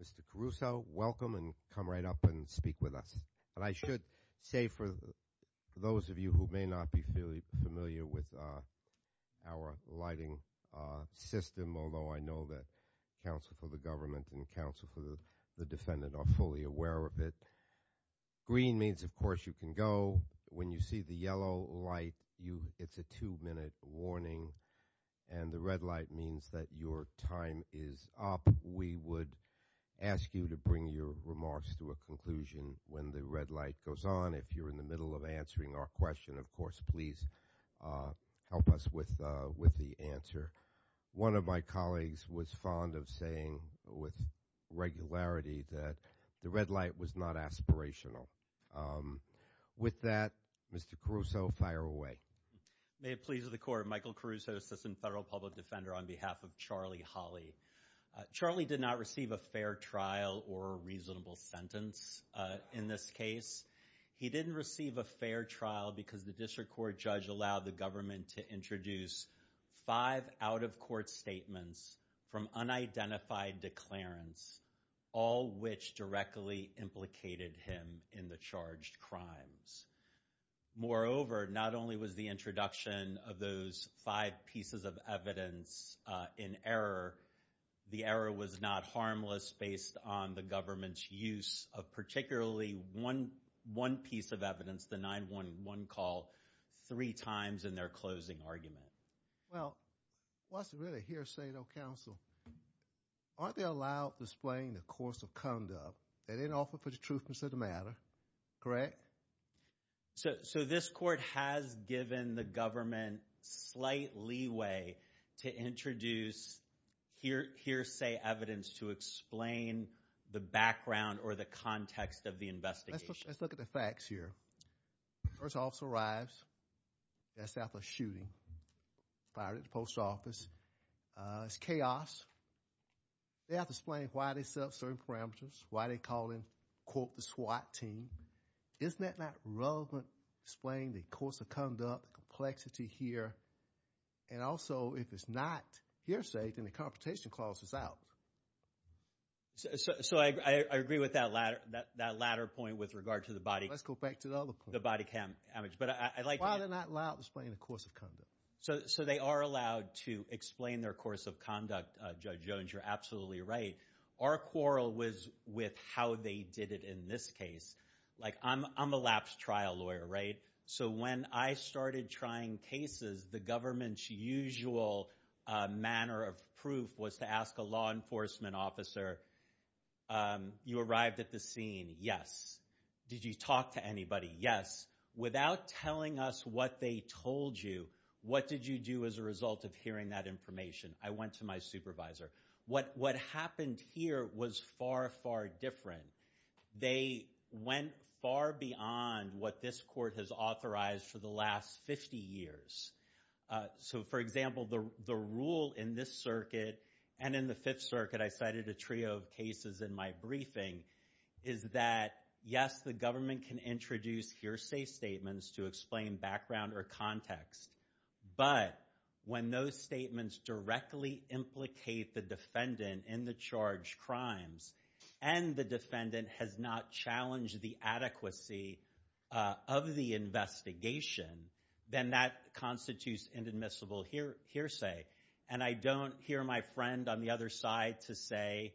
Mr. Caruso, welcome and come right up and speak with us. And I should say for those of you who may not be familiar with our lighting system, although I know that counsel for the government and counsel for the defendant are fully aware of it, green means, of course, you can go. When you see the yellow light, it's a two-minute warning, and the red light means that your time is up. We would ask you to bring your remarks to a conclusion when the red light goes on. If you're in the middle of answering our question, of course, please help us with the answer. One of my colleagues was fond of saying with regularity that the red light was not aspirational. With that, Mr. Caruso, fire away. May it please the court, Michael Caruso, assistant federal public defender on behalf of Charlie Holley. Charlie did not receive a fair trial or a reasonable sentence in this case. He didn't receive a fair trial because the district court judge allowed the government to introduce five out-of-court statements from unidentified declarants, all which directly implicated him in the charged crimes. Moreover, not only was the introduction of those five pieces of evidence in error, the error was not harmless based on the government's use of particularly one piece of evidence, the 9-1-1 call, three times in their closing argument. Well, what's really hearsay though, counsel, aren't they allowed to explain the course of conduct? No, they didn't offer for the truth of the matter, correct? So this court has given the government slight leeway to introduce hearsay evidence to explain the background or the context of the investigation. Let's look at the facts here. First officer arrives. They're set up for shooting. Fired at the post office. It's chaos. They have to explain why they set up certain parameters, why they call in, quote, the SWAT team. Isn't that not relevant? Explain the course of conduct, complexity here. And also, if it's not hearsay, then the confrontation clause is out. So I agree with that latter point with regard to the body. Let's go back to the other point. The body damage. Why are they not allowed to explain the course of conduct? So they are allowed to explain their course of conduct, Judge Jones. You're absolutely right. Our quarrel was with how they did it in this case. Like, I'm a lapse trial lawyer, right? So when I started trying cases, the government's usual manner of proof was to ask a law enforcement officer, you arrived at the scene, yes. Did you talk to anybody? Yes. Without telling us what they told you, what did you do as a result of hearing that information? I went to my supervisor. What happened here was far, far different. They went far beyond what this court has authorized for the last 50 years. So, for example, the rule in this circuit and in the Fifth Circuit, I cited a trio of cases in my briefing, is that, yes, the government can introduce hearsay statements to explain background or context. But when those statements directly implicate the defendant in the charged crimes and the defendant has not challenged the adequacy of the investigation, then that constitutes inadmissible hearsay. And I don't hear my friend on the other side to say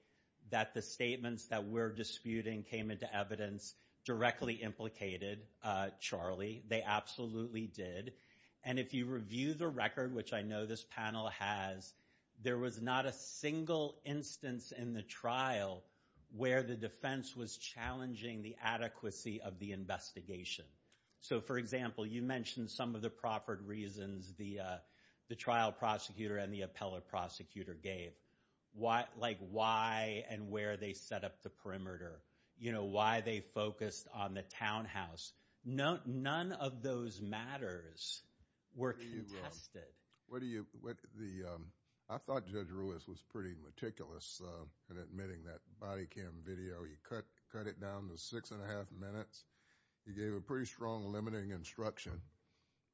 that the statements that we're disputing came into evidence directly implicated Charlie. They absolutely did. And if you review the record, which I know this panel has, there was not a single instance in the trial where the defense was challenging the adequacy of the investigation. So, for example, you mentioned some of the proffered reasons the trial prosecutor and the appellate prosecutor gave, like why and where they set up the perimeter, why they focused on the townhouse. None of those matters were contested. I thought Judge Ruiz was pretty meticulous in admitting that body cam video. He cut it down to six and a half minutes. He gave a pretty strong limiting instruction.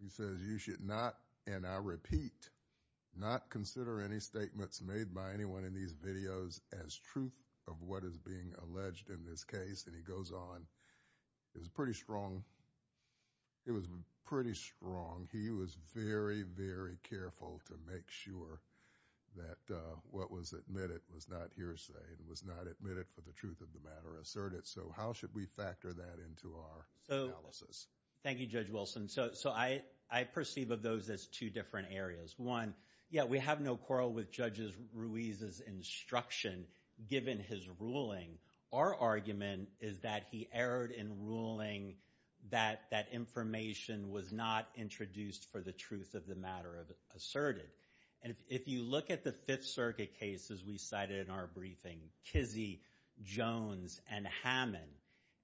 He says you should not, and I repeat, not consider any statements made by anyone in these videos as truth of what is being alleged in this case. And he goes on. It was pretty strong. It was pretty strong. He was very, very careful to make sure that what was admitted was not hearsay. It was not admitted for the truth of the matter asserted. So how should we factor that into our analysis? Thank you, Judge Wilson. So I perceive of those as two different areas. One, yeah, we have no quarrel with Judge Ruiz's instruction given his ruling. Our argument is that he erred in ruling that that information was not introduced for the truth of the matter asserted. And if you look at the Fifth Circuit cases we cited in our briefing, Kizzee, Jones, and Hammond,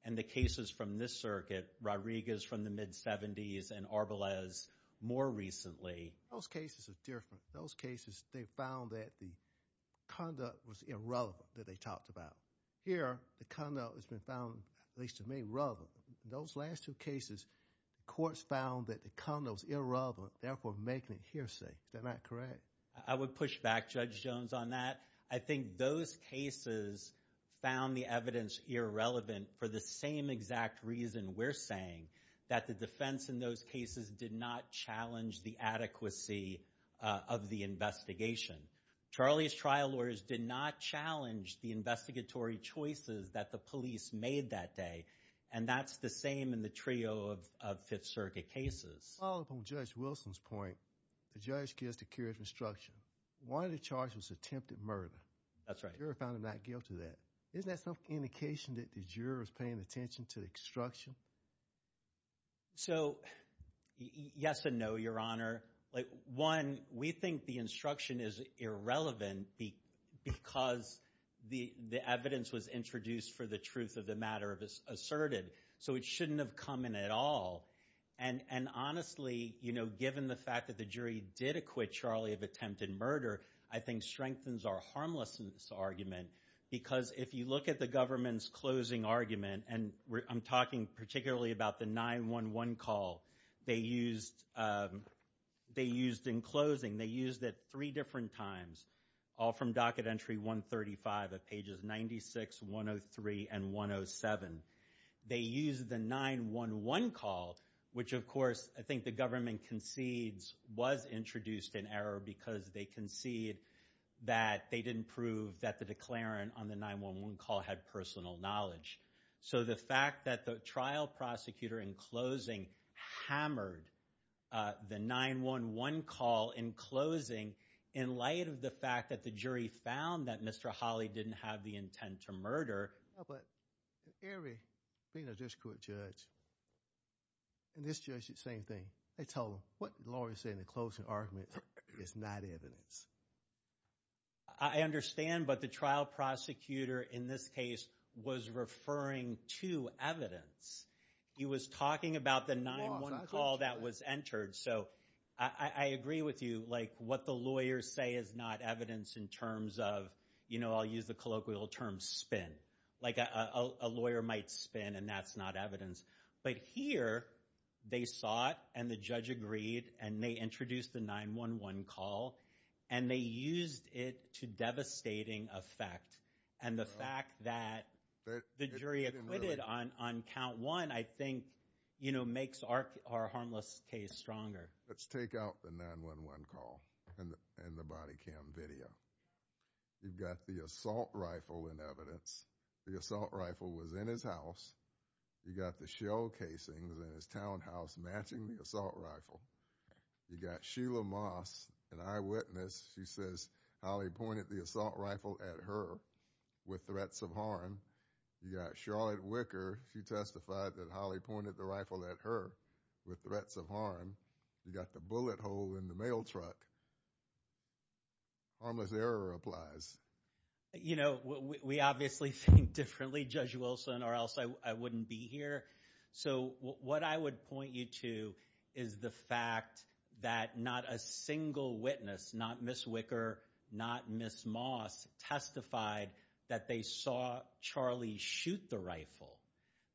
and the cases from this circuit, Rodriguez from the mid-'70s, and Arbelez more recently, those cases are different. In those cases, they found that the conduct was irrelevant that they talked about. Here, the conduct has been found, at least to me, relevant. In those last two cases, courts found that the conduct was irrelevant, therefore making it hearsay. Is that not correct? I would push back, Judge Jones, on that. I think those cases found the evidence irrelevant for the same exact reason we're saying, that the defense in those cases did not challenge the adequacy of the investigation. Charlie's trial lawyers did not challenge the investigatory choices that the police made that day, and that's the same in the trio of Fifth Circuit cases. To follow up on Judge Wilson's point, the judge gives the curator instruction. One of the charges was attempted murder. That's right. The juror found him not guilty of that. Isn't that some indication that the juror is paying attention to the instruction? So, yes and no, Your Honor. One, we think the instruction is irrelevant because the evidence was introduced for the truth of the matter asserted, so it shouldn't have come in at all. And honestly, you know, given the fact that the jury did acquit Charlie of attempted murder, I think strengthens our harmlessness argument because if you look at the government's closing argument, and I'm talking particularly about the 911 call they used in closing, they used it three different times, all from docket entry 135 of pages 96, 103, and 107. They used the 911 call, which, of course, I think the government concedes was introduced in error because they concede that they didn't prove that the declarant on the 911 call had personal knowledge. So the fact that the trial prosecutor in closing hammered the 911 call in closing in light of the fact that the jury found that Mr. Hawley didn't have the intent to murder. But every penal district judge and this judge did the same thing. They told them what the lawyer said in the closing argument is not evidence. I understand, but the trial prosecutor in this case was referring to evidence. He was talking about the 911 call that was entered. So I agree with you, like what the lawyers say is not evidence in terms of, you know, I'll use the colloquial term spin, like a lawyer might spin and that's not evidence. But here they saw it and the judge agreed and they introduced the 911 call, and they used it to devastating effect. And the fact that the jury acquitted on count one, I think, you know, makes our harmless case stronger. Let's take out the 911 call and the body cam video. You've got the assault rifle in evidence. The assault rifle was in his house. You got the shell casings in his townhouse matching the assault rifle. You got Sheila Moss, an eyewitness. She says Hawley pointed the assault rifle at her with threats of harm. You got Charlotte Wicker. She testified that Hawley pointed the rifle at her with threats of harm. You got the bullet hole in the mail truck. Harmless error applies. You know, we obviously think differently, Judge Wilson, or else I wouldn't be here. So what I would point you to is the fact that not a single witness, not Ms. Wicker, not Ms. Moss, testified that they saw Charlie shoot the rifle.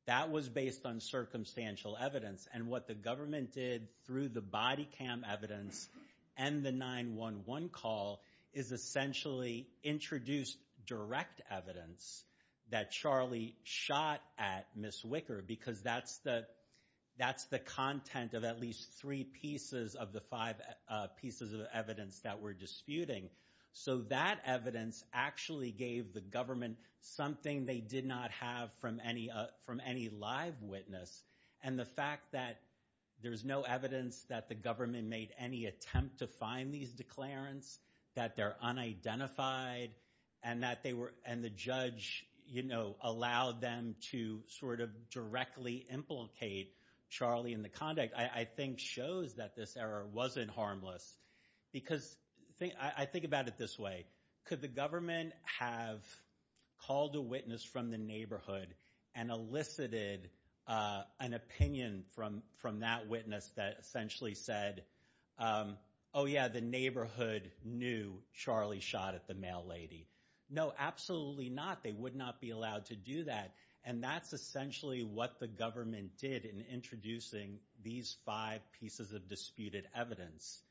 That was based on circumstantial evidence. And what the government did through the body cam evidence and the 911 call is essentially introduce direct evidence that Charlie shot at Ms. Wicker because that's the content of at least three pieces of the five pieces of evidence that we're disputing. So that evidence actually gave the government something they did not have from any live witness. And the fact that there's no evidence that the government made any attempt to find these declarants, that they're unidentified, and the judge allowed them to sort of directly implicate Charlie in the conduct, I think shows that this error wasn't harmless. Because I think about it this way. Could the government have called a witness from the neighborhood and elicited an opinion from that witness that essentially said, oh, yeah, the neighborhood knew Charlie shot at the mail lady? No, absolutely not. They would not be allowed to do that. And that's essentially what the government did in introducing these five pieces of disputed evidence.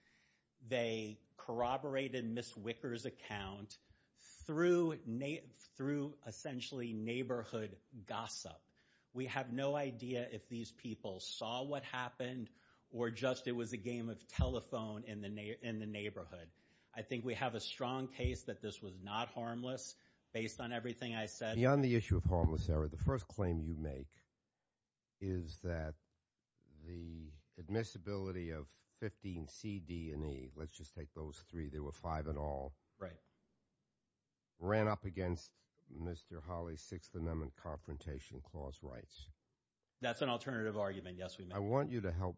They corroborated Ms. Wicker's account through essentially neighborhood gossip. We have no idea if these people saw what happened or just it was a game of telephone in the neighborhood. I think we have a strong case that this was not harmless based on everything I said. Beyond the issue of harmless error, the first claim you make is that the admissibility of 15C, D, and E, let's just take those three, there were five in all, ran up against Mr. Hawley's Sixth Amendment Confrontation Clause rights. That's an alternative argument, yes, we made. I want you to help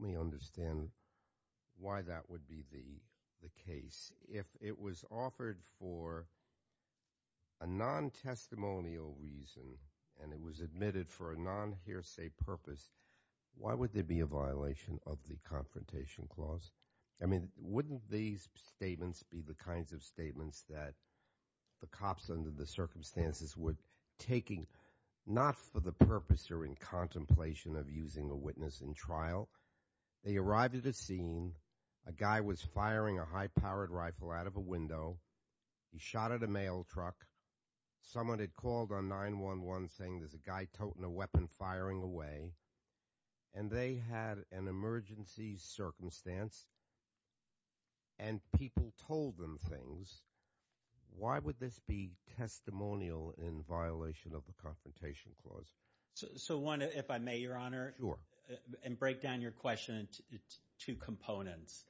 me understand why that would be the case. If it was offered for a non-testimonial reason and it was admitted for a non-hearsay purpose, why would there be a violation of the Confrontation Clause? I mean, wouldn't these statements be the kinds of statements that the cops under the circumstances were taking not for the purpose or in contemplation of using a witness in trial? They arrived at a scene. A guy was firing a high-powered rifle out of a window. He shot at a mail truck. Someone had called on 911 saying there's a guy toting a weapon firing away. And they had an emergency circumstance and people told them things. Why would this be testimonial in violation of the Confrontation Clause? So, one, if I may, Your Honor. And break down your question into two components.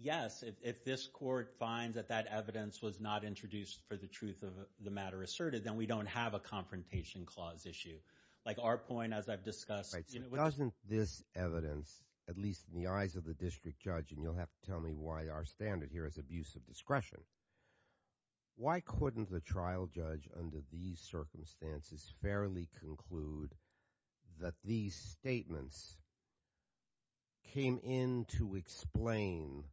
Yes, if this court finds that that evidence was not introduced for the truth of the matter asserted, then we don't have a Confrontation Clause issue. Like our point, as I've discussed. Doesn't this evidence, at least in the eyes of the district judge, and you'll have to tell me why our standard here is abuse of discretion, why couldn't the trial judge under these circumstances fairly conclude that these statements came in to explain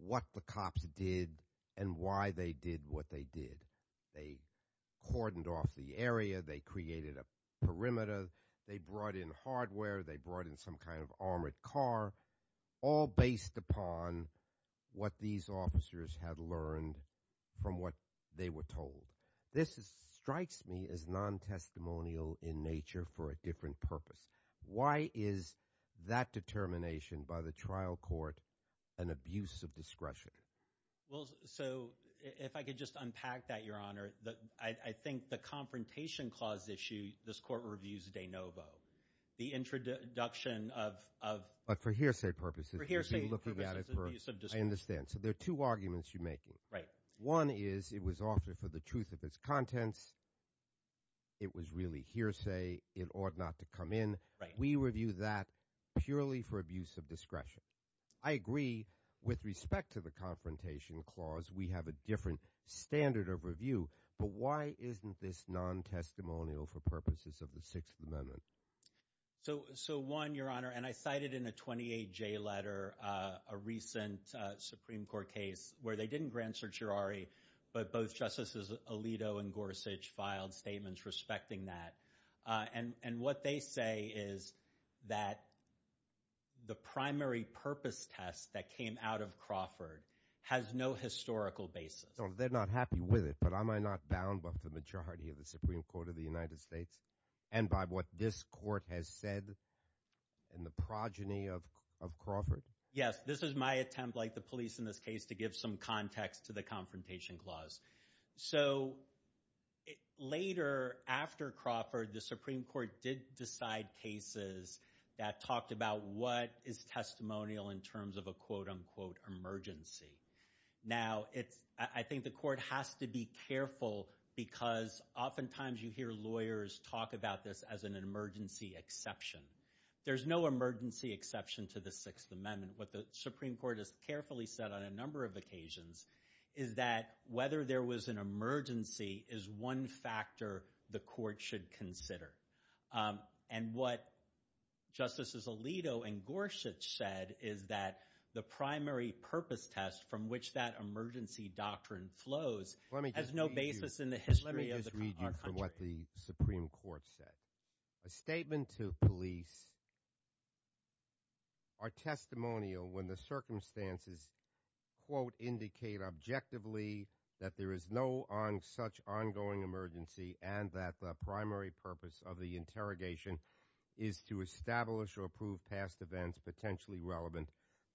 what the cops did and why they did what they did? They cordoned off the area. They created a perimeter. They brought in hardware. They brought in some kind of armored car. All based upon what these officers had learned from what they were told. This strikes me as non-testimonial in nature for a different purpose. Why is that determination by the trial court an abuse of discretion? Well, so, if I could just unpack that, Your Honor. I think the Confrontation Clause issue this court reviews de novo. The introduction of – But for hearsay purposes. For hearsay purposes, abuse of discretion. I understand. So there are two arguments you're making. Right. One is it was offered for the truth of its contents. It was really hearsay. It ought not to come in. We review that purely for abuse of discretion. I agree with respect to the Confrontation Clause. We have a different standard of review. But why isn't this non-testimonial for purposes of the Sixth Amendment? So, one, Your Honor, and I cited in a 28J letter a recent Supreme Court case where they didn't grant certiorari, but both Justices Alito and Gorsuch filed statements respecting that. And what they say is that the primary purpose test that came out of Crawford has no historical basis. They're not happy with it, but am I not bound by the majority of the Supreme Court of the United States and by what this court has said in the progeny of Crawford? Yes. This is my attempt, like the police in this case, to give some context to the Confrontation Clause. So later, after Crawford, the Supreme Court did decide cases that talked about what is testimonial in terms of a quote-unquote emergency. Now, I think the court has to be careful because oftentimes you hear lawyers talk about this as an emergency exception. There's no emergency exception to the Sixth Amendment. What the Supreme Court has carefully said on a number of occasions is that whether there was an emergency is one factor the court should consider. And what Justices Alito and Gorsuch said is that the primary purpose test from which that emergency doctrine flows has no basis in the history of our country. Let me just read you from what the Supreme Court said. A statement to police are testimonial when the circumstances, quote, indicate objectively that there is no such ongoing emergency and that the primary purpose of the interrogation is to establish or prove past events potentially relevant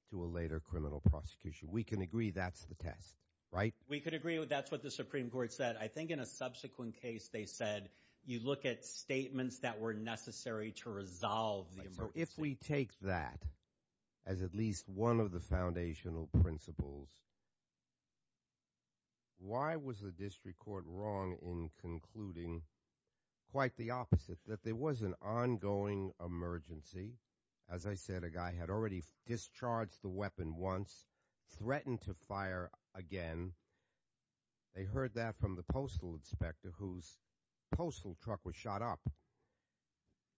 to a later criminal prosecution. We can agree that's the test, right? We can agree that's what the Supreme Court said. I think in a subsequent case they said you look at statements that were necessary to resolve the emergency. So if we take that as at least one of the foundational principles, why was the district court wrong in concluding quite the opposite, that there was an ongoing emergency? As I said, a guy had already discharged the weapon once, threatened to fire again. They heard that from the postal inspector whose postal truck was shot up.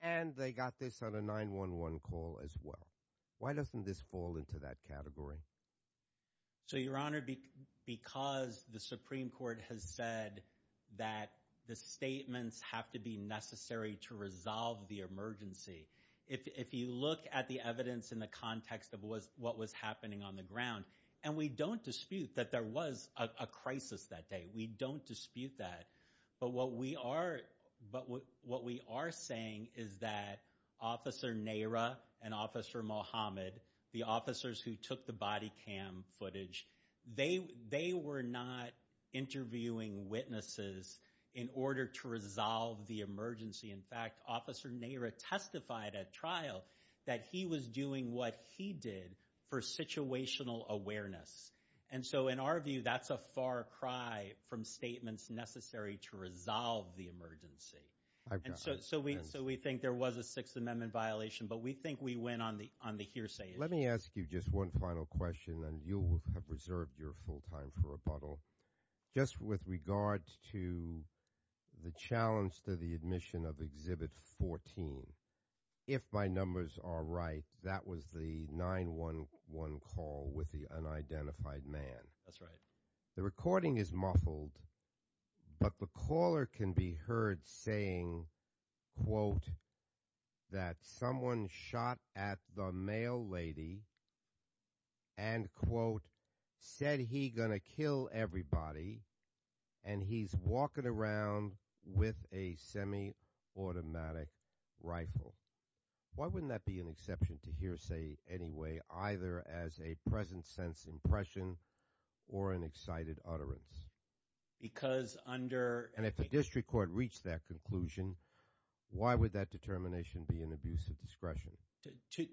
And they got this on a 911 call as well. Why doesn't this fall into that category? So, Your Honor, because the Supreme Court has said that the statements have to be necessary to resolve the emergency. If you look at the evidence in the context of what was happening on the ground, and we don't dispute that there was a crisis that day. We don't dispute that. But what we are saying is that Officer Nehra and Officer Mohammed, the officers who took the body cam footage, they were not interviewing witnesses in order to resolve the emergency. In fact, Officer Nehra testified at trial that he was doing what he did for situational awareness. And so in our view, that's a far cry from statements necessary to resolve the emergency. So we think there was a Sixth Amendment violation, but we think we win on the hearsay issue. Let me ask you just one final question, and you have reserved your full time for rebuttal. Just with regards to the challenge to the admission of Exhibit 14, if my numbers are right, that was the 911 call with the unidentified man. That's right. The recording is muffled, but the caller can be heard saying, quote, that someone shot at the male lady and, quote, said he going to kill everybody, and he's walking around with a semi-automatic rifle. Why wouldn't that be an exception to hearsay anyway, either as a present-sense impression or an excited utterance? Because under – And if the district court reached that conclusion, why would that determination be an abuse of discretion?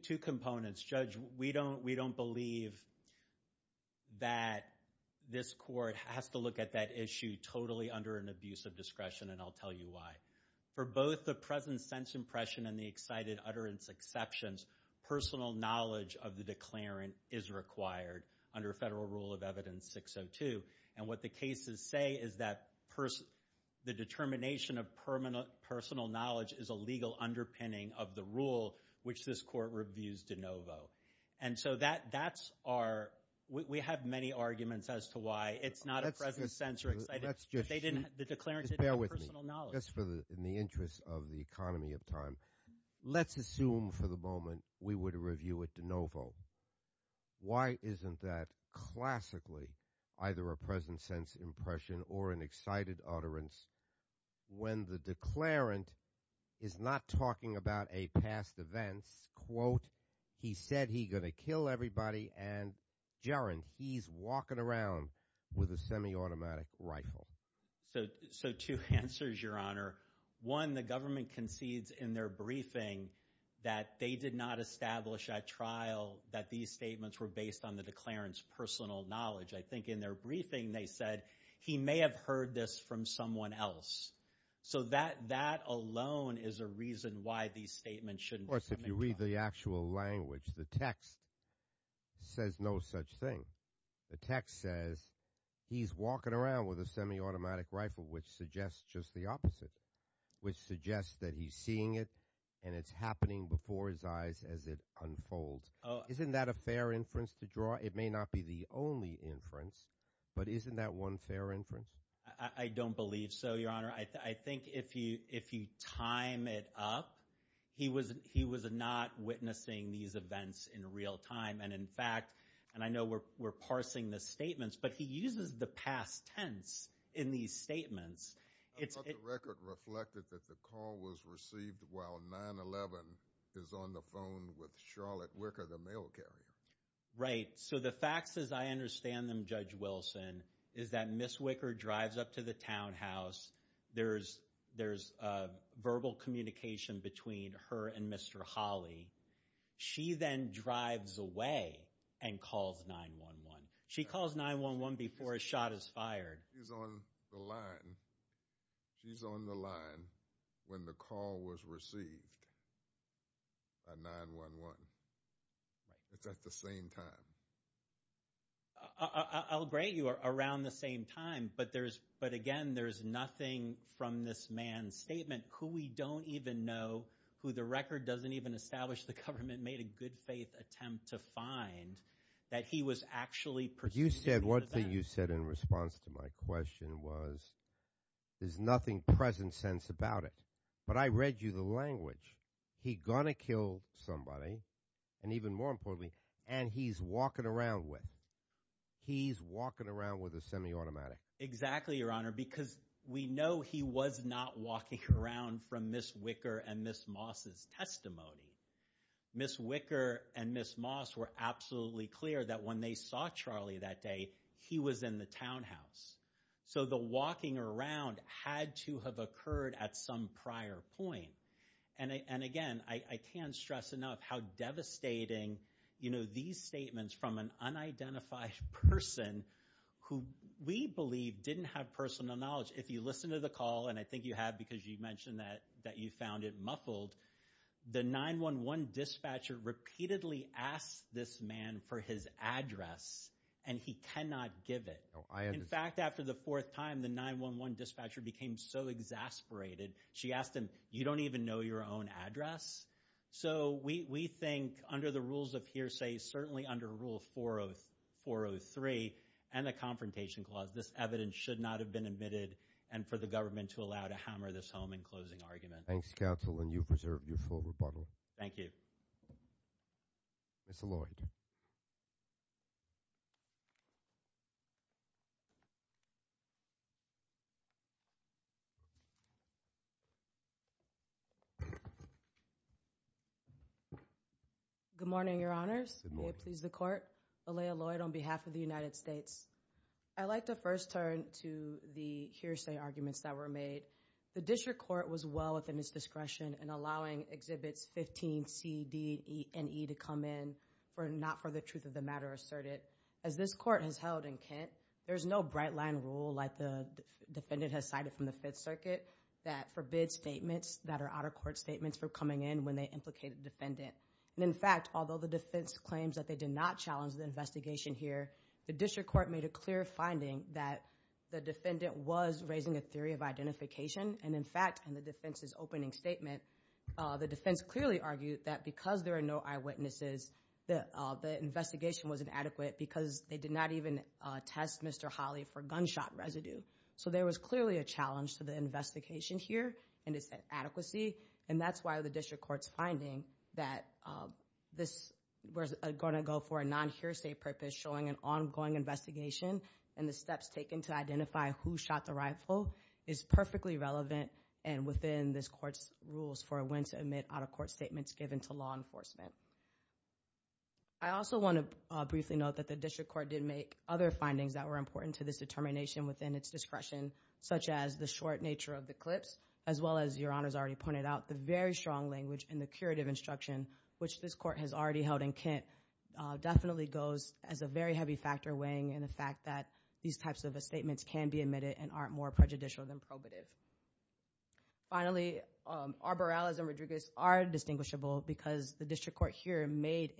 Two components. Judge, we don't believe that this court has to look at that issue totally under an abuse of discretion, and I'll tell you why. For both the present-sense impression and the excited utterance exceptions, personal knowledge of the declarant is required under Federal Rule of Evidence 602. And what the cases say is that the determination of personal knowledge is a legal underpinning of the rule, which this court reviews de novo. And so that's our – we have many arguments as to why it's not a present-sense or excited – That's just – The declarant didn't have personal knowledge. Just for the – in the interest of the economy of time, let's assume for the moment we were to review it de novo. Why isn't that classically either a present-sense impression or an excited utterance when the declarant is not talking about a past events, quote, he said he going to kill everybody, and, Jaron, he's walking around with a semi-automatic rifle? So two answers, Your Honor. One, the government concedes in their briefing that they did not establish at trial that these statements were based on the declarant's personal knowledge. I think in their briefing they said he may have heard this from someone else. So that alone is a reason why these statements shouldn't be coming to trial. Of course, if you read the actual language. The text says no such thing. The text says he's walking around with a semi-automatic rifle, which suggests just the opposite, which suggests that he's seeing it and it's happening before his eyes as it unfolds. Isn't that a fair inference to draw? It may not be the only inference, but isn't that one fair inference? I don't believe so, Your Honor. I think if you time it up, he was not witnessing these events in real time. And, in fact, and I know we're parsing the statements, but he uses the past tense in these statements. I thought the record reflected that the call was received while 9-11 is on the phone with Charlotte Wicker, the mail carrier. Right. So the facts as I understand them, Judge Wilson, is that Ms. Wicker drives up to the townhouse. There's verbal communication between her and Mr. Holley. She then drives away and calls 9-1-1. She calls 9-1-1 before a shot is fired. She's on the line when the call was received by 9-1-1. It's at the same time. I'll agree you are around the same time, but, again, there's nothing from this man's statement. We don't even know who the record doesn't even establish. The government made a good-faith attempt to find that he was actually pursuing the event. You said one thing you said in response to my question was there's nothing present sense about it. But I read you the language. He going to kill somebody, and even more importantly, and he's walking around with. He's walking around with a semiautomatic. Exactly, Your Honor, because we know he was not walking around from Ms. Wicker and Ms. Moss' testimony. Ms. Wicker and Ms. Moss were absolutely clear that when they saw Charlie that day, he was in the townhouse. So the walking around had to have occurred at some prior point. And, again, I can't stress enough how devastating these statements from an unidentified person who we believe didn't have personal knowledge. If you listen to the call, and I think you have because you mentioned that you found it muffled, the 9-1-1 dispatcher repeatedly asked this man for his address, and he cannot give it. In fact, after the fourth time, the 9-1-1 dispatcher became so exasperated. She asked him, you don't even know your own address? So we think under the rules of hearsay, certainly under Rule 403 and the Confrontation Clause, this evidence should not have been admitted and for the government to allow to hammer this home in closing argument. Thanks, counsel, and you've reserved your full rebuttal. Thank you. Ms. Alloyd. Good morning, Your Honors. May it please the Court. Alaya Alloyd on behalf of the United States. I'd like to first turn to the hearsay arguments that were made. The District Court was well within its discretion in allowing Exhibits 15C, D, E, and E to come in, but not for the truth of the matter asserted. As this Court has held in Kent, there's no bright-line rule like the defendant has cited from the Fifth Circuit that forbids statements that are out-of-court statements for coming in when they implicate a defendant. And in fact, although the defense claims that they did not challenge the investigation here, the District Court made a clear finding that the defendant was raising a theory of identification, and in fact, in the defense's opening statement, the defense clearly argued that because there are no eyewitnesses, the investigation was inadequate because they did not even test Mr. Holley for gunshot residue. So there was clearly a challenge to the investigation here, and it's an adequacy, and that's why the District Court's finding that this was going to go for a non-hearsay purpose, showing an ongoing investigation and the steps taken to identify who shot the rifle, is perfectly relevant and within this Court's rules for when to omit out-of-court statements given to law enforcement. I also want to briefly note that the District Court did make other findings that were important to this determination within its discretion, such as the short nature of the clips, as well as, Your Honors already pointed out, the very strong language in the curative instruction, which this Court has already held in Kent, definitely goes as a very heavy factor weighing in the fact that these types of statements can be omitted and aren't more prejudicial than probative. Finally, Arborales and Rodriguez are distinguishable because the District Court here made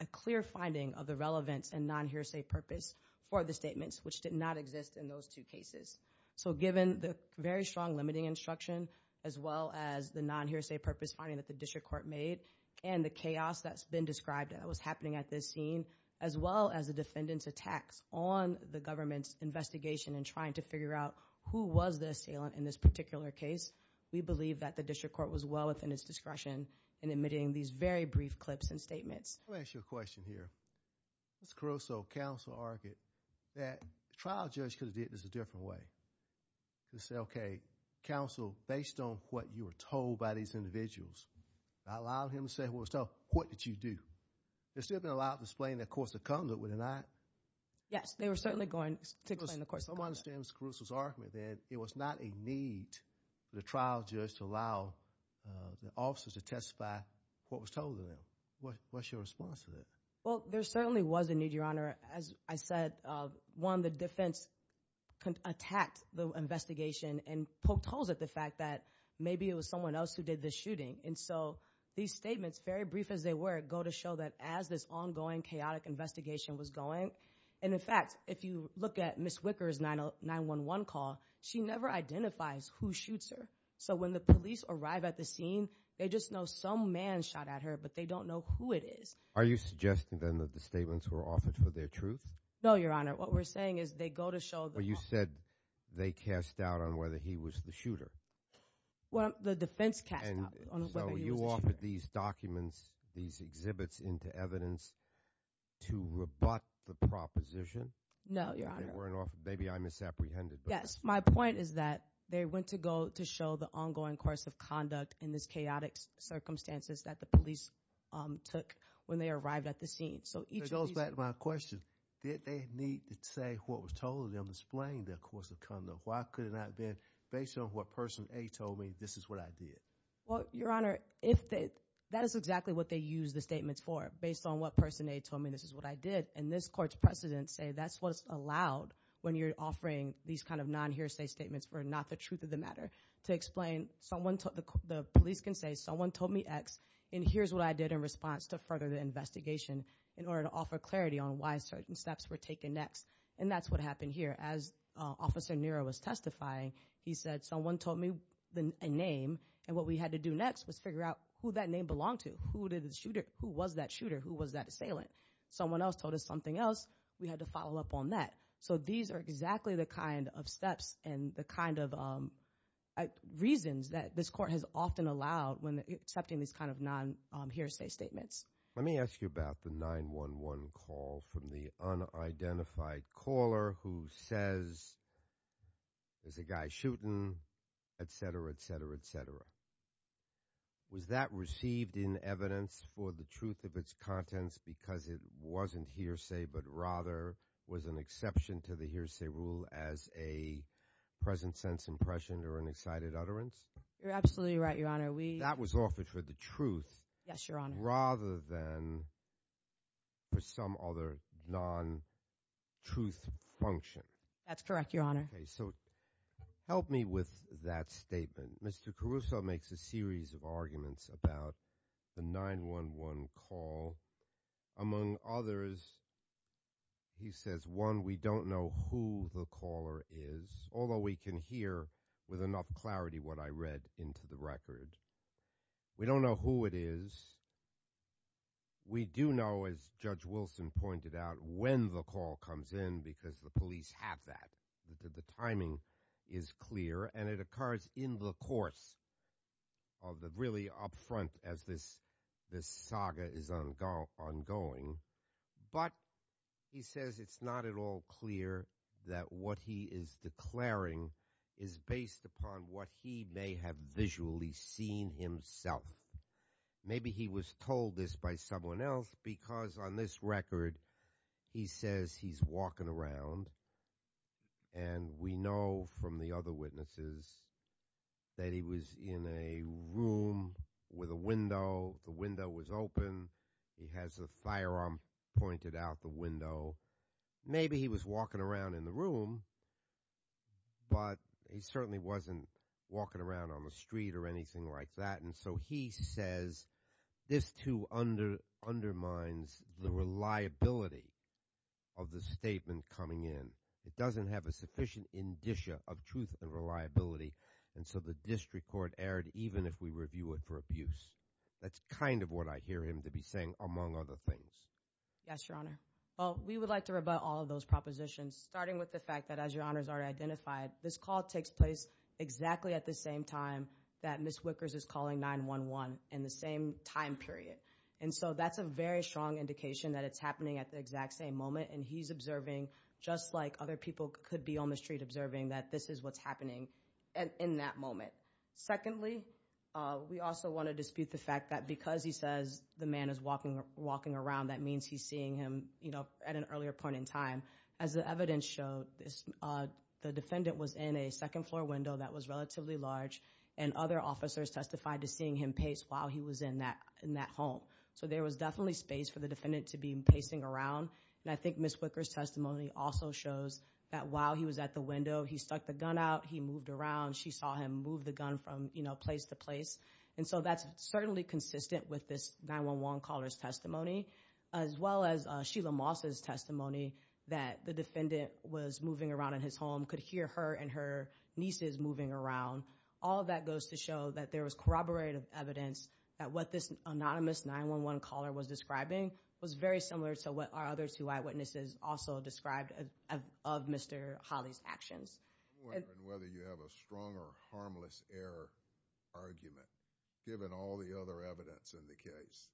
a clear finding of the relevance and non-hearsay purpose for the statements, which did not exist in those two cases. So given the very strong limiting instruction, as well as the non-hearsay purpose finding that the District Court made, and the chaos that's been described that was happening at this scene, as well as the defendant's attacks on the government's investigation in trying to figure out who was the assailant in this particular case, we believe that the District Court was well within its discretion in omitting these very brief clips and statements. Let me ask you a question here. Mr. Caruso, counsel argued that the trial judge could have did this a different way. He could have said, okay, counsel, based on what you were told by these individuals, I allowed him to say what was told. What did you do? They're still being allowed to explain their course of conduct, were they not? Yes, they were certainly going to explain the course of conduct. I understand Mr. Caruso's argument that it was not a need for the trial judge to allow the officers to testify what was told to them. What's your response to that? Well, there certainly was a need, Your Honor. As I said, one, the defense attacked the investigation and poked holes at the fact that maybe it was someone else who did the shooting, and so these statements, very brief as they were, go to show that as this ongoing chaotic investigation was going, and in fact, if you look at Ms. Wicker's 911 call, she never identifies who shoots her. So when the police arrive at the scene, they just know some man shot at her, but they don't know who it is. Are you suggesting, then, that the statements were offered for their truth? No, Your Honor. What we're saying is they go to show the— Well, you said they cast doubt on whether he was the shooter. Well, the defense cast doubt on whether he was the shooter. So you offered these documents, these exhibits into evidence to rebut the proposition? No, Your Honor. Maybe I misapprehended. Yes. My point is that they went to go to show the ongoing course of conduct in this chaotic circumstances that the police took when they arrived at the scene. So each of these— It goes back to my question. Did they need to say what was told to them, explain their course of conduct? Why could it not have been based on what Person A told me this is what I did? Well, Your Honor, that is exactly what they used the statements for, based on what Person A told me this is what I did. And this Court's precedents say that's what's allowed when you're offering these kind of non-hearsay statements for not the truth of the matter. To explain, the police can say someone told me X, and here's what I did in response to further the investigation in order to offer clarity on why certain steps were taken next. And that's what happened here. As Officer Nero was testifying, he said someone told me a name, and what we had to do next was figure out who that name belonged to. Who was that shooter? Who was that assailant? Someone else told us something else. We had to follow up on that. So these are exactly the kind of steps and the kind of reasons that this Court has often allowed when accepting these kind of non-hearsay statements. Let me ask you about the 911 call from the unidentified caller who says there's a guy shooting, et cetera, et cetera, et cetera. Was that received in evidence for the truth of its contents because it wasn't hearsay but rather was an exception to the hearsay rule as a present sense impression or an excited utterance? You're absolutely right, Your Honor. That was offered for the truth. Yes, Your Honor. Rather than for some other non-truth function. That's correct, Your Honor. Okay. So help me with that statement. Mr. Caruso makes a series of arguments about the 911 call. Among others, he says, one, we don't know who the caller is, although we can hear with enough clarity what I read into the record. We don't know who it is. We do know, as Judge Wilson pointed out, when the call comes in because the police have that, that the timing is clear and it occurs in the course of the really up front as this saga is ongoing. But he says it's not at all clear that what he is declaring is based upon what he may have visually seen himself. Maybe he was told this by someone else because on this record he says he's walking around and we know from the other witnesses that he was in a room with a window. The window was open. He has a firearm pointed out the window. Maybe he was walking around in the room, but he certainly wasn't walking around on the street or anything like that. And so he says this too undermines the reliability of the statement coming in. It doesn't have a sufficient indicia of truth and reliability. And so the district court erred even if we review it for abuse. That's kind of what I hear him to be saying among other things. Yes, Your Honor. Well, we would like to rebut all of those propositions starting with the fact that as Your Honors already identified, this call takes place exactly at the same time that Ms. Wickers is calling 911 in the same time period. And so that's a very strong indication that it's happening at the exact same moment. And he's observing just like other people could be on the street observing that this is what's happening in that moment. Secondly, we also want to dispute the fact that because he says the man is walking around, that means he's seeing him at an earlier point in time. As the evidence showed, the defendant was in a second floor window that was relatively large. And other officers testified to seeing him pace while he was in that home. So there was definitely space for the defendant to be pacing around. And I think Ms. Wickers' testimony also shows that while he was at the window, he stuck the gun out, he moved around. She saw him move the gun from place to place. And so that's certainly consistent with this 911 caller's testimony as well as Sheila Moss' testimony that the defendant was moving around in his home, could hear her and her nieces moving around. All of that goes to show that there was corroborative evidence that what this anonymous 911 caller was describing was very similar to what our other two eyewitnesses also described of Mr. Hawley's actions. I'm wondering whether you have a strong or harmless error argument given all the other evidence in the case.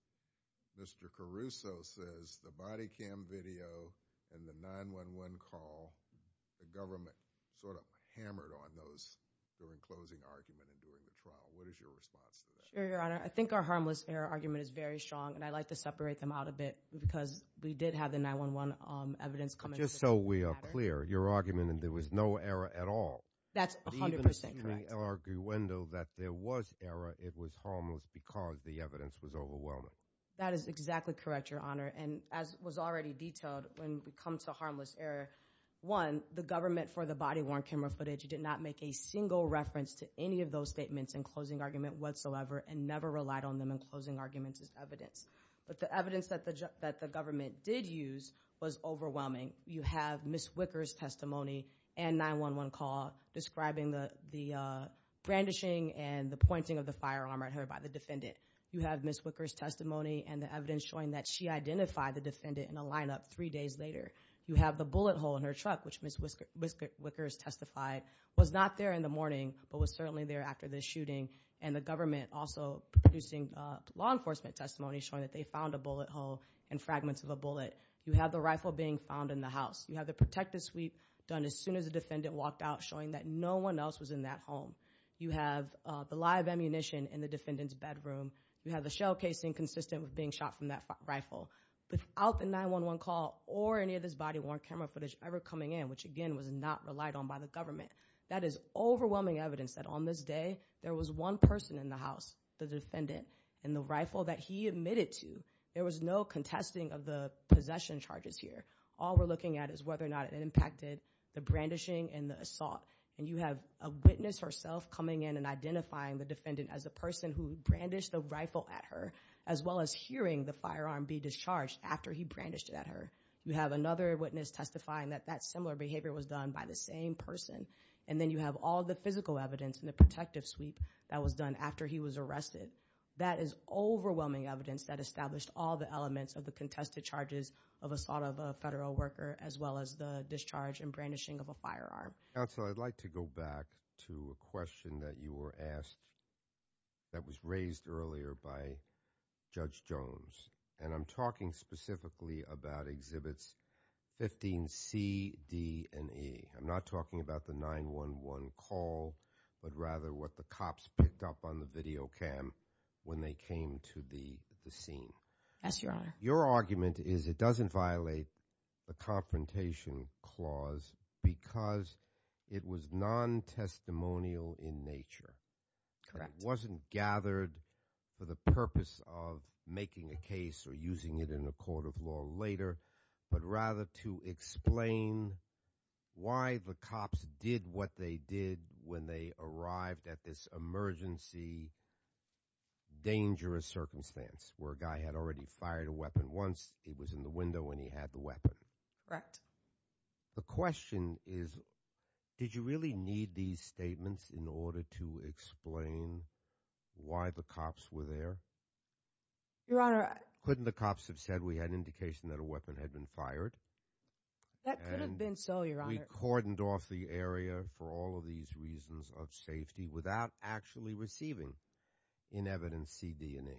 Mr. Caruso says the body cam video and the 911 call, the government sort of hammered on those during closing argument and during the trial. What is your response to that? Sure, Your Honor. I think our harmless error argument is very strong, and I'd like to separate them out a bit because we did have the 911 evidence come into the trial. So we are clear. Your argument that there was no error at all. That's 100% correct. The argument that there was error, it was harmless because the evidence was overwhelming. That is exactly correct, Your Honor. And as was already detailed when we come to harmless error, one, the government for the body-worn camera footage did not make a single reference to any of those statements in closing argument whatsoever and never relied on them in closing arguments as evidence. But the evidence that the government did use was overwhelming. You have Ms. Wicker's testimony and 911 call describing the brandishing and the pointing of the firearm at her by the defendant. You have Ms. Wicker's testimony and the evidence showing that she identified the defendant in a lineup three days later. You have the bullet hole in her truck, which Ms. Wicker's testified was not there in the morning but was certainly there after the shooting, and the government also producing law enforcement testimony showing that they found a bullet hole and fragments of a bullet. You have the rifle being found in the house. You have the protective sweep done as soon as the defendant walked out, showing that no one else was in that home. You have the live ammunition in the defendant's bedroom. You have the shell casing consistent with being shot from that rifle. Without the 911 call or any of this body-worn camera footage ever coming in, which again was not relied on by the government, that is overwhelming evidence that on this day there was one person in the house, the defendant, and the rifle that he admitted to, there was no contesting of the possession charges here. All we're looking at is whether or not it impacted the brandishing and the assault. And you have a witness herself coming in and identifying the defendant as a person who brandished a rifle at her as well as hearing the firearm be discharged after he brandished it at her. You have another witness testifying that that similar behavior was done by the same person. And then you have all the physical evidence in the protective sweep that was done after he was arrested. That is overwhelming evidence that established all the elements of the contested charges of assault of a federal worker as well as the discharge and brandishing of a firearm. Counsel, I'd like to go back to a question that you were asked that was raised earlier by Judge Jones. And I'm talking specifically about Exhibits 15C, D, and E. I'm not talking about the 911 call but rather what the cops picked up on the video cam when they came to the scene. Yes, Your Honor. Your argument is it doesn't violate the Confrontation Clause because it was non-testimonial in nature. Correct. It wasn't gathered for the purpose of making a case or using it in a court of law later but rather to explain why the cops did what they did when they arrived at this emergency dangerous circumstance where a guy had already fired a weapon once. He was in the window and he had the weapon. The question is did you really need these statements in order to explain why the cops were there? Your Honor, I… The cops have said we had indication that a weapon had been fired. That could have been so, Your Honor. And we cordoned off the area for all of these reasons of safety without actually receiving in evidence C, D, and E.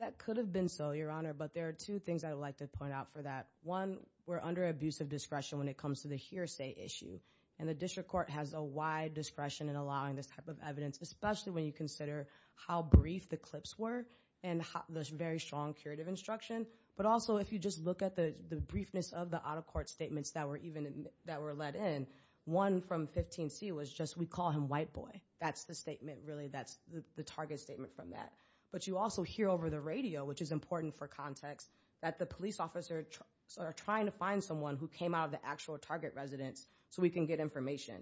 That could have been so, Your Honor. But there are two things I'd like to point out for that. One, we're under abusive discretion when it comes to the hearsay issue. And the District Court has a wide discretion in allowing this type of evidence, especially when you consider how brief the clips were and the very strong curative instruction. But also if you just look at the briefness of the out-of-court statements that were let in, one from 15C was just we call him white boy. That's the statement really. That's the target statement from that. But you also hear over the radio, which is important for context, that the police officers are trying to find someone who came out of the actual target residence so we can get information.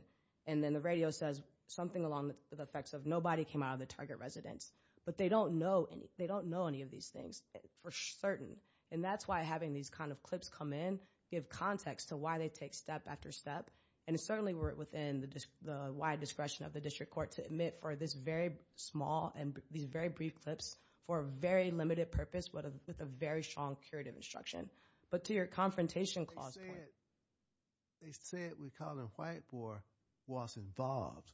And then the radio says something along the effects of nobody came out of the target residence. But they don't know any of these things for certain. And that's why having these kind of clips come in give context to why they take step after step. And certainly we're within the wide discretion of the District Court to admit for this very small and these very brief clips for a very limited purpose with a very strong curative instruction. But to your confrontation clause point. They said we call him white boy was involved.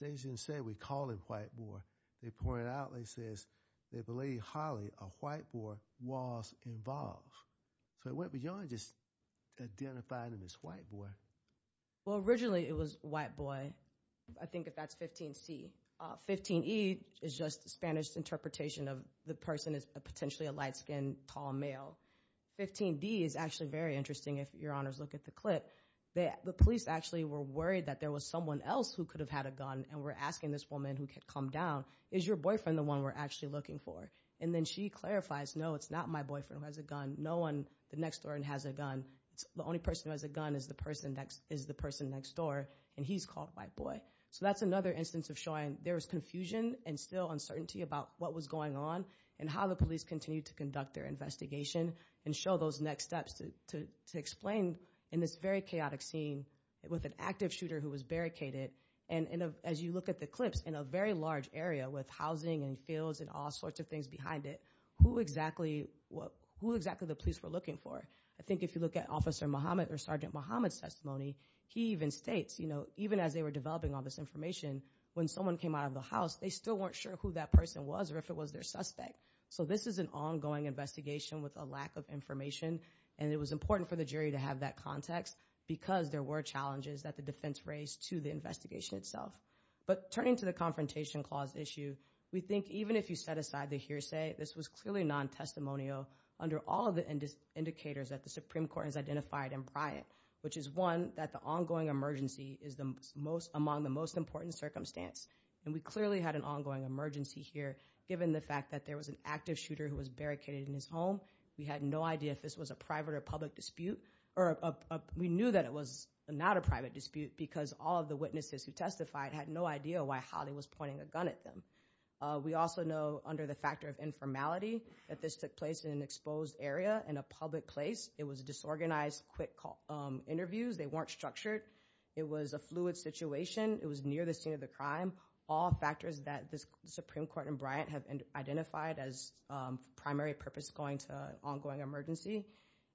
They didn't say we call him white boy. They pointed out, they says they believe highly a white boy was involved. So it went beyond just identifying him as white boy. Well, originally it was white boy, I think if that's 15C. 15E is just the Spanish interpretation of the person is potentially a light-skinned, tall male. 15D is actually very interesting if your honors look at the clip. The police actually were worried that there was someone else who could have had a gun and were asking this woman who had come down, is your boyfriend the one we're actually looking for? And then she clarifies, no, it's not my boyfriend who has a gun. No one next door has a gun. The only person who has a gun is the person next door. And he's called white boy. So that's another instance of showing there was confusion and still uncertainty about what was going on and how the police continued to conduct their investigation and show those next steps to explain in this very chaotic scene with an active shooter who was barricaded. And as you look at the clips, in a very large area with housing and fields and all sorts of things behind it, who exactly the police were looking for? I think if you look at Officer Mohammed or Sergeant Mohammed's testimony, he even states, you know, even as they were developing all this information, when someone came out of the house, they still weren't sure who that person was or if it was their suspect. So this is an ongoing investigation with a lack of information. And it was important for the jury to have that context because there were challenges that the defense raised to the investigation itself. But turning to the Confrontation Clause issue, we think even if you set aside the hearsay, this was clearly non-testimonial under all of the indicators that the Supreme Court has identified in Bryant, which is, one, that the ongoing emergency is among the most important circumstance. And we clearly had an ongoing emergency here. Given the fact that there was an active shooter who was barricaded in his home, we had no idea if this was a private or public dispute. We knew that it was not a private dispute because all of the witnesses who testified had no idea why Holly was pointing a gun at them. We also know under the factor of informality that this took place in an exposed area in a public place. It was disorganized, quick interviews. They weren't structured. It was a fluid situation. It was near the scene of the crime. All factors that the Supreme Court and Bryant have identified as primary purpose going to ongoing emergency.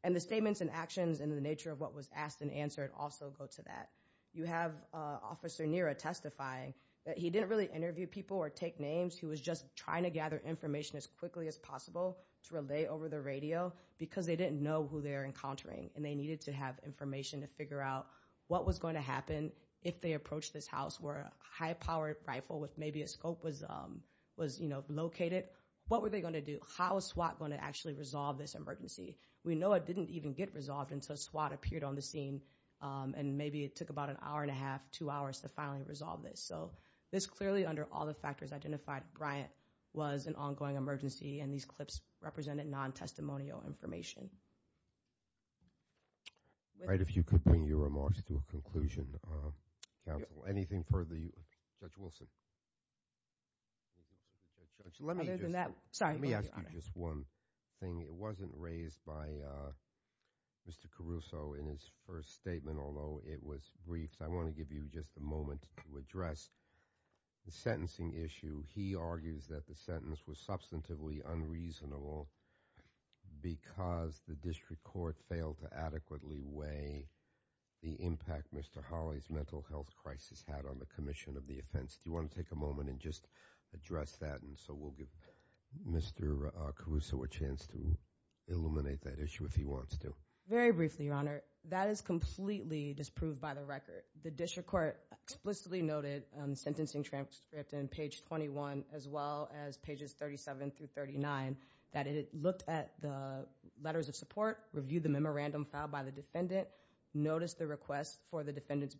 And the statements and actions and the nature of what was asked and answered also go to that. You have Officer Nira testifying. He didn't really interview people or take names. He was just trying to gather information as quickly as possible to relay over the radio because they didn't know who they were encountering. And they needed to have information to figure out what was going to happen if they approached this house where a high-powered rifle with maybe a scope was located. What were they going to do? How was SWAT going to actually resolve this emergency? We know it didn't even get resolved until SWAT appeared on the scene. And maybe it took about an hour and a half, two hours to finally resolve this. So this clearly under all the factors identified, Bryant was an ongoing emergency. And these clips represented non-testimonial information. All right. If you could bring your remarks to a conclusion, counsel. Anything further? Judge Wilson. Other than that, sorry. Let me ask you just one thing. It wasn't raised by Mr. Caruso in his first statement, although it was briefed. I want to give you just a moment to address the sentencing issue. He argues that the sentence was substantively unreasonable because the district court failed to adequately weigh the impact Mr. Hawley's mental health crisis had on the commission of the offense. Do you want to take a moment and just address that? And so we'll give Mr. Caruso a chance to illuminate that issue if he wants to. Very briefly, Your Honor. That is completely disproved by the record. The district court explicitly noted on the sentencing transcript on page 21 as well as pages 37 through 39 that it looked at the letters of support, reviewed the memorandum filed by the defendant, noticed the request for the defendant's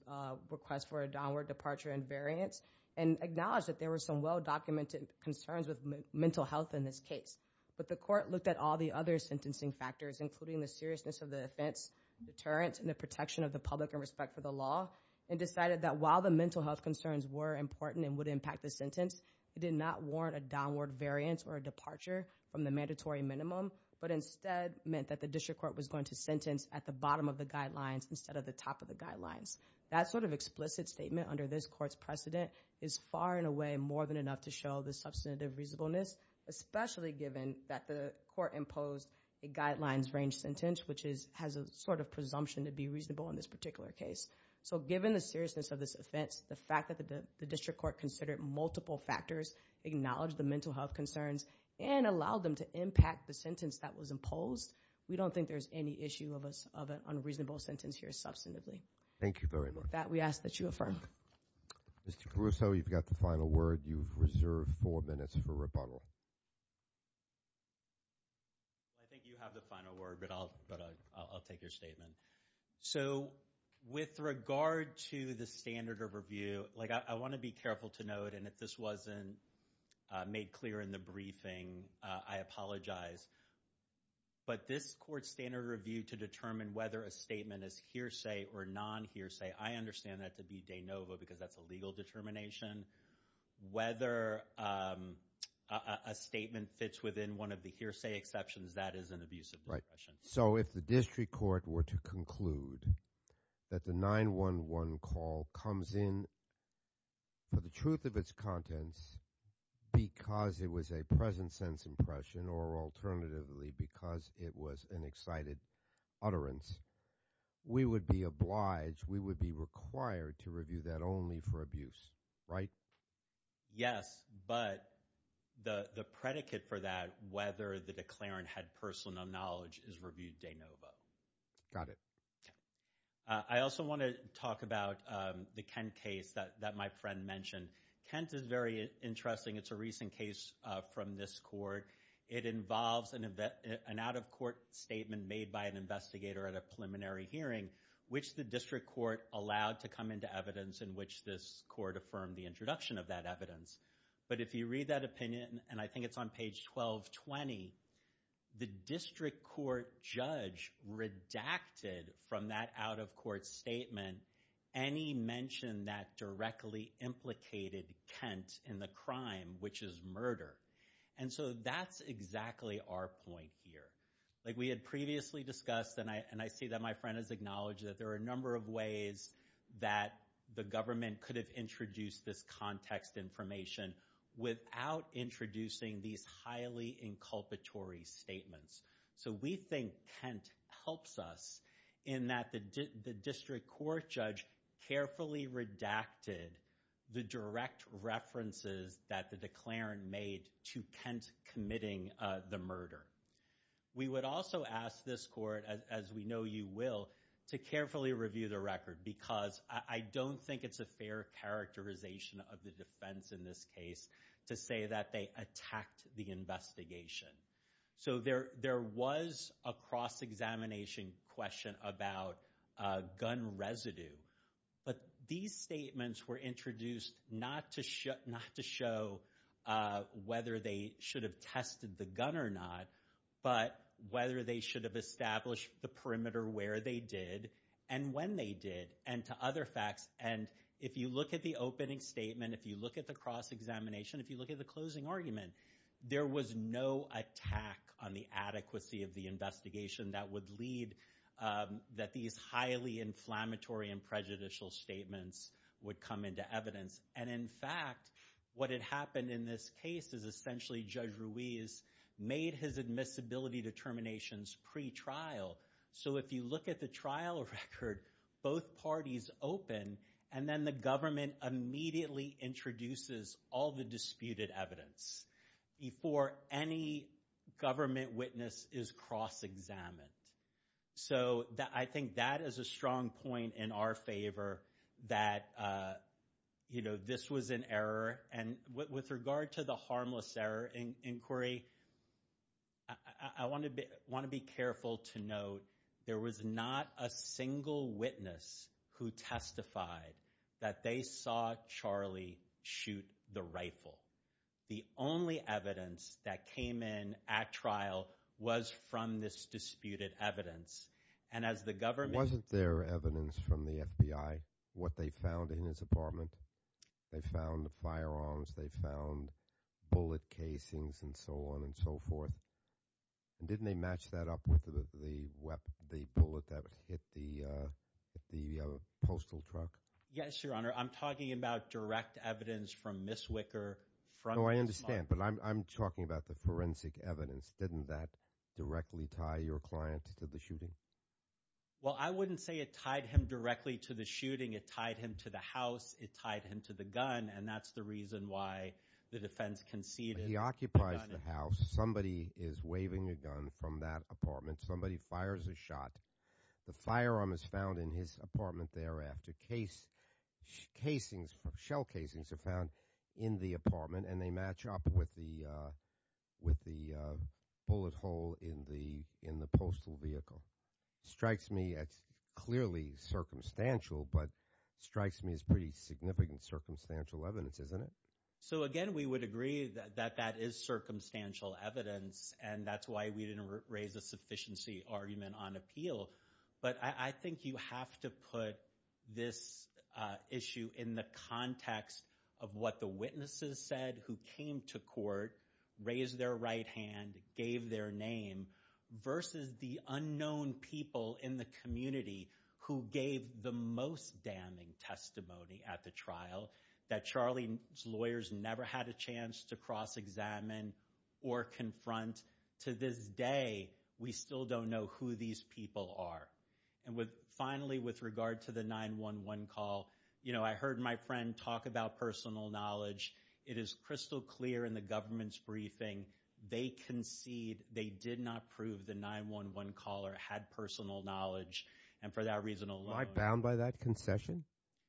request for a downward departure in variance, and acknowledged that there were some well-documented concerns with mental health in this case. But the court looked at all the other sentencing factors, including the seriousness of the offense, deterrence, and the protection of the public and respect for the law, and decided that while the mental health concerns were important and would impact the sentence, it did not warrant a downward variance or a departure from the mandatory minimum, but instead meant that the district court was going to sentence at the bottom of the guidelines instead of the top of the guidelines. That sort of explicit statement under this court's precedent is far and away more than enough to show the substantive reasonableness, especially given that the court imposed a guidelines-range sentence, which has a sort of presumption to be reasonable in this particular case. So given the seriousness of this offense, the fact that the district court considered multiple factors, acknowledged the mental health concerns, and allowed them to impact the sentence that was imposed, we don't think there's any issue of an unreasonable sentence here substantively. Thank you very much. That we ask that you affirm. Mr. Caruso, you've got the final word. You've reserved four minutes for rebuttal. I think you have the final word, but I'll take your statement. So with regard to the standard of review, I want to be careful to note, and if this wasn't made clear in the briefing, I apologize, but this court's standard of review to determine whether a statement is hearsay or non-hearsay, I understand that to be de novo because that's a legal determination. Whether a statement fits within one of the hearsay exceptions, that is an abuse of discretion. So if the district court were to conclude that the 9-1-1 call comes in for the truth of its contents because it was a present-sense impression or alternatively because it was an excited utterance, we would be obliged, we would be required to review that only for abuse, right? Yes, but the predicate for that, whether the declarant had personal knowledge, is reviewed de novo. Got it. I also want to talk about the Kent case that my friend mentioned. Kent is very interesting. It's a recent case from this court. It involves an out-of-court statement made by an investigator at a preliminary hearing, which the district court allowed to come into evidence, in which this court affirmed the introduction of that evidence. But if you read that opinion, and I think it's on page 1220, the district court judge redacted from that out-of-court statement any mention that directly implicated Kent in the crime, which is murder. And so that's exactly our point here. Like we had previously discussed, and I see that my friend has acknowledged that there are a number of ways that the government could have introduced this context information without introducing these highly inculpatory statements. So we think Kent helps us in that the district court judge carefully redacted the direct references that the declarant made to Kent committing the murder. We would also ask this court, as we know you will, to carefully review the record because I don't think it's a fair characterization of the defense in this case to say that they attacked the investigation. So there was a cross-examination question about gun residue, but these statements were introduced not to show whether they should have tested the gun or not, but whether they should have established the perimeter where they did and when they did, and to other facts. And if you look at the opening statement, if you look at the cross-examination, if you look at the closing argument, there was no attack on the adequacy of the investigation that would lead that these highly inflammatory and prejudicial statements would come into evidence. And in fact, what had happened in this case is essentially Judge Ruiz made his admissibility determinations pre-trial. So if you look at the trial record, both parties open, and then the government immediately introduces all the disputed evidence before any government witness is cross-examined. So I think that is a strong point in our favor that this was an error. And with regard to the harmless error inquiry, I want to be careful to note there was not a single witness who testified that they saw Charlie shoot the rifle. The only evidence that came in at trial was from this disputed evidence. And as the government – Wasn't there evidence from the FBI, what they found in his apartment? They found firearms. They found bullet casings and so on and so forth. And didn't they match that up with the bullet that hit the postal truck? Yes, Your Honor. I'm talking about direct evidence from Ms. Wicker from this moment. No, I understand. But I'm talking about the forensic evidence. Didn't that directly tie your client to the shooting? Well, I wouldn't say it tied him directly to the shooting. It tied him to the house. It tied him to the gun, and that's the reason why the defense conceded. He occupies the house. Somebody is waving a gun from that apartment. Somebody fires a shot. The firearm is found in his apartment thereafter. Casings, shell casings are found in the apartment, and they match up with the bullet hole in the postal vehicle. Strikes me as clearly circumstantial, but strikes me as pretty significant circumstantial evidence, isn't it? So, again, we would agree that that is circumstantial evidence, and that's why we didn't raise a sufficiency argument on appeal. But I think you have to put this issue in the context of what the witnesses said who came to court, raised their right hand, gave their name, versus the unknown people in the community who gave the most damning testimony at the trial that Charlie's lawyers never had a chance to cross-examine or confront. To this day, we still don't know who these people are. And finally, with regard to the 911 call, you know, I heard my friend talk about personal knowledge. It is crystal clear in the government's briefing they concede they did not prove the 911 caller had personal knowledge, and for that reason alone. Am I bound by that concession,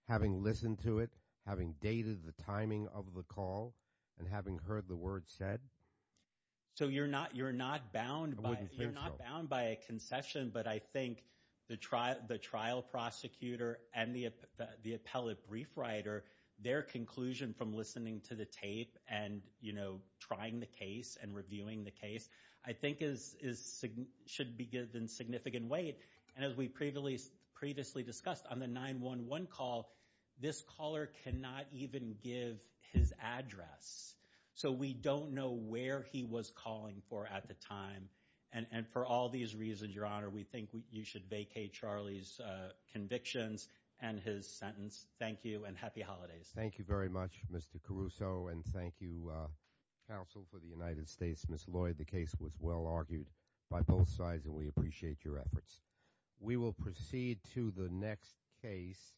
having listened to it, having dated the timing of the call, and having heard the words said? So you're not bound by a concession, but I think the trial prosecutor and the appellate brief writer, their conclusion from listening to the tape and, you know, trying the case and reviewing the case, I think, should be given significant weight. And as we previously discussed, on the 911 call, this caller cannot even give his address. So we don't know where he was calling for at the time. And for all these reasons, Your Honor, we think you should vacate Charlie's convictions and his sentence. Thank you, and happy holidays. Thank you very much, Mr. Caruso. And thank you, counsel, for the United States. Ms. Lloyd, the case was well argued by both sides, and we appreciate your efforts. We will proceed to the next case.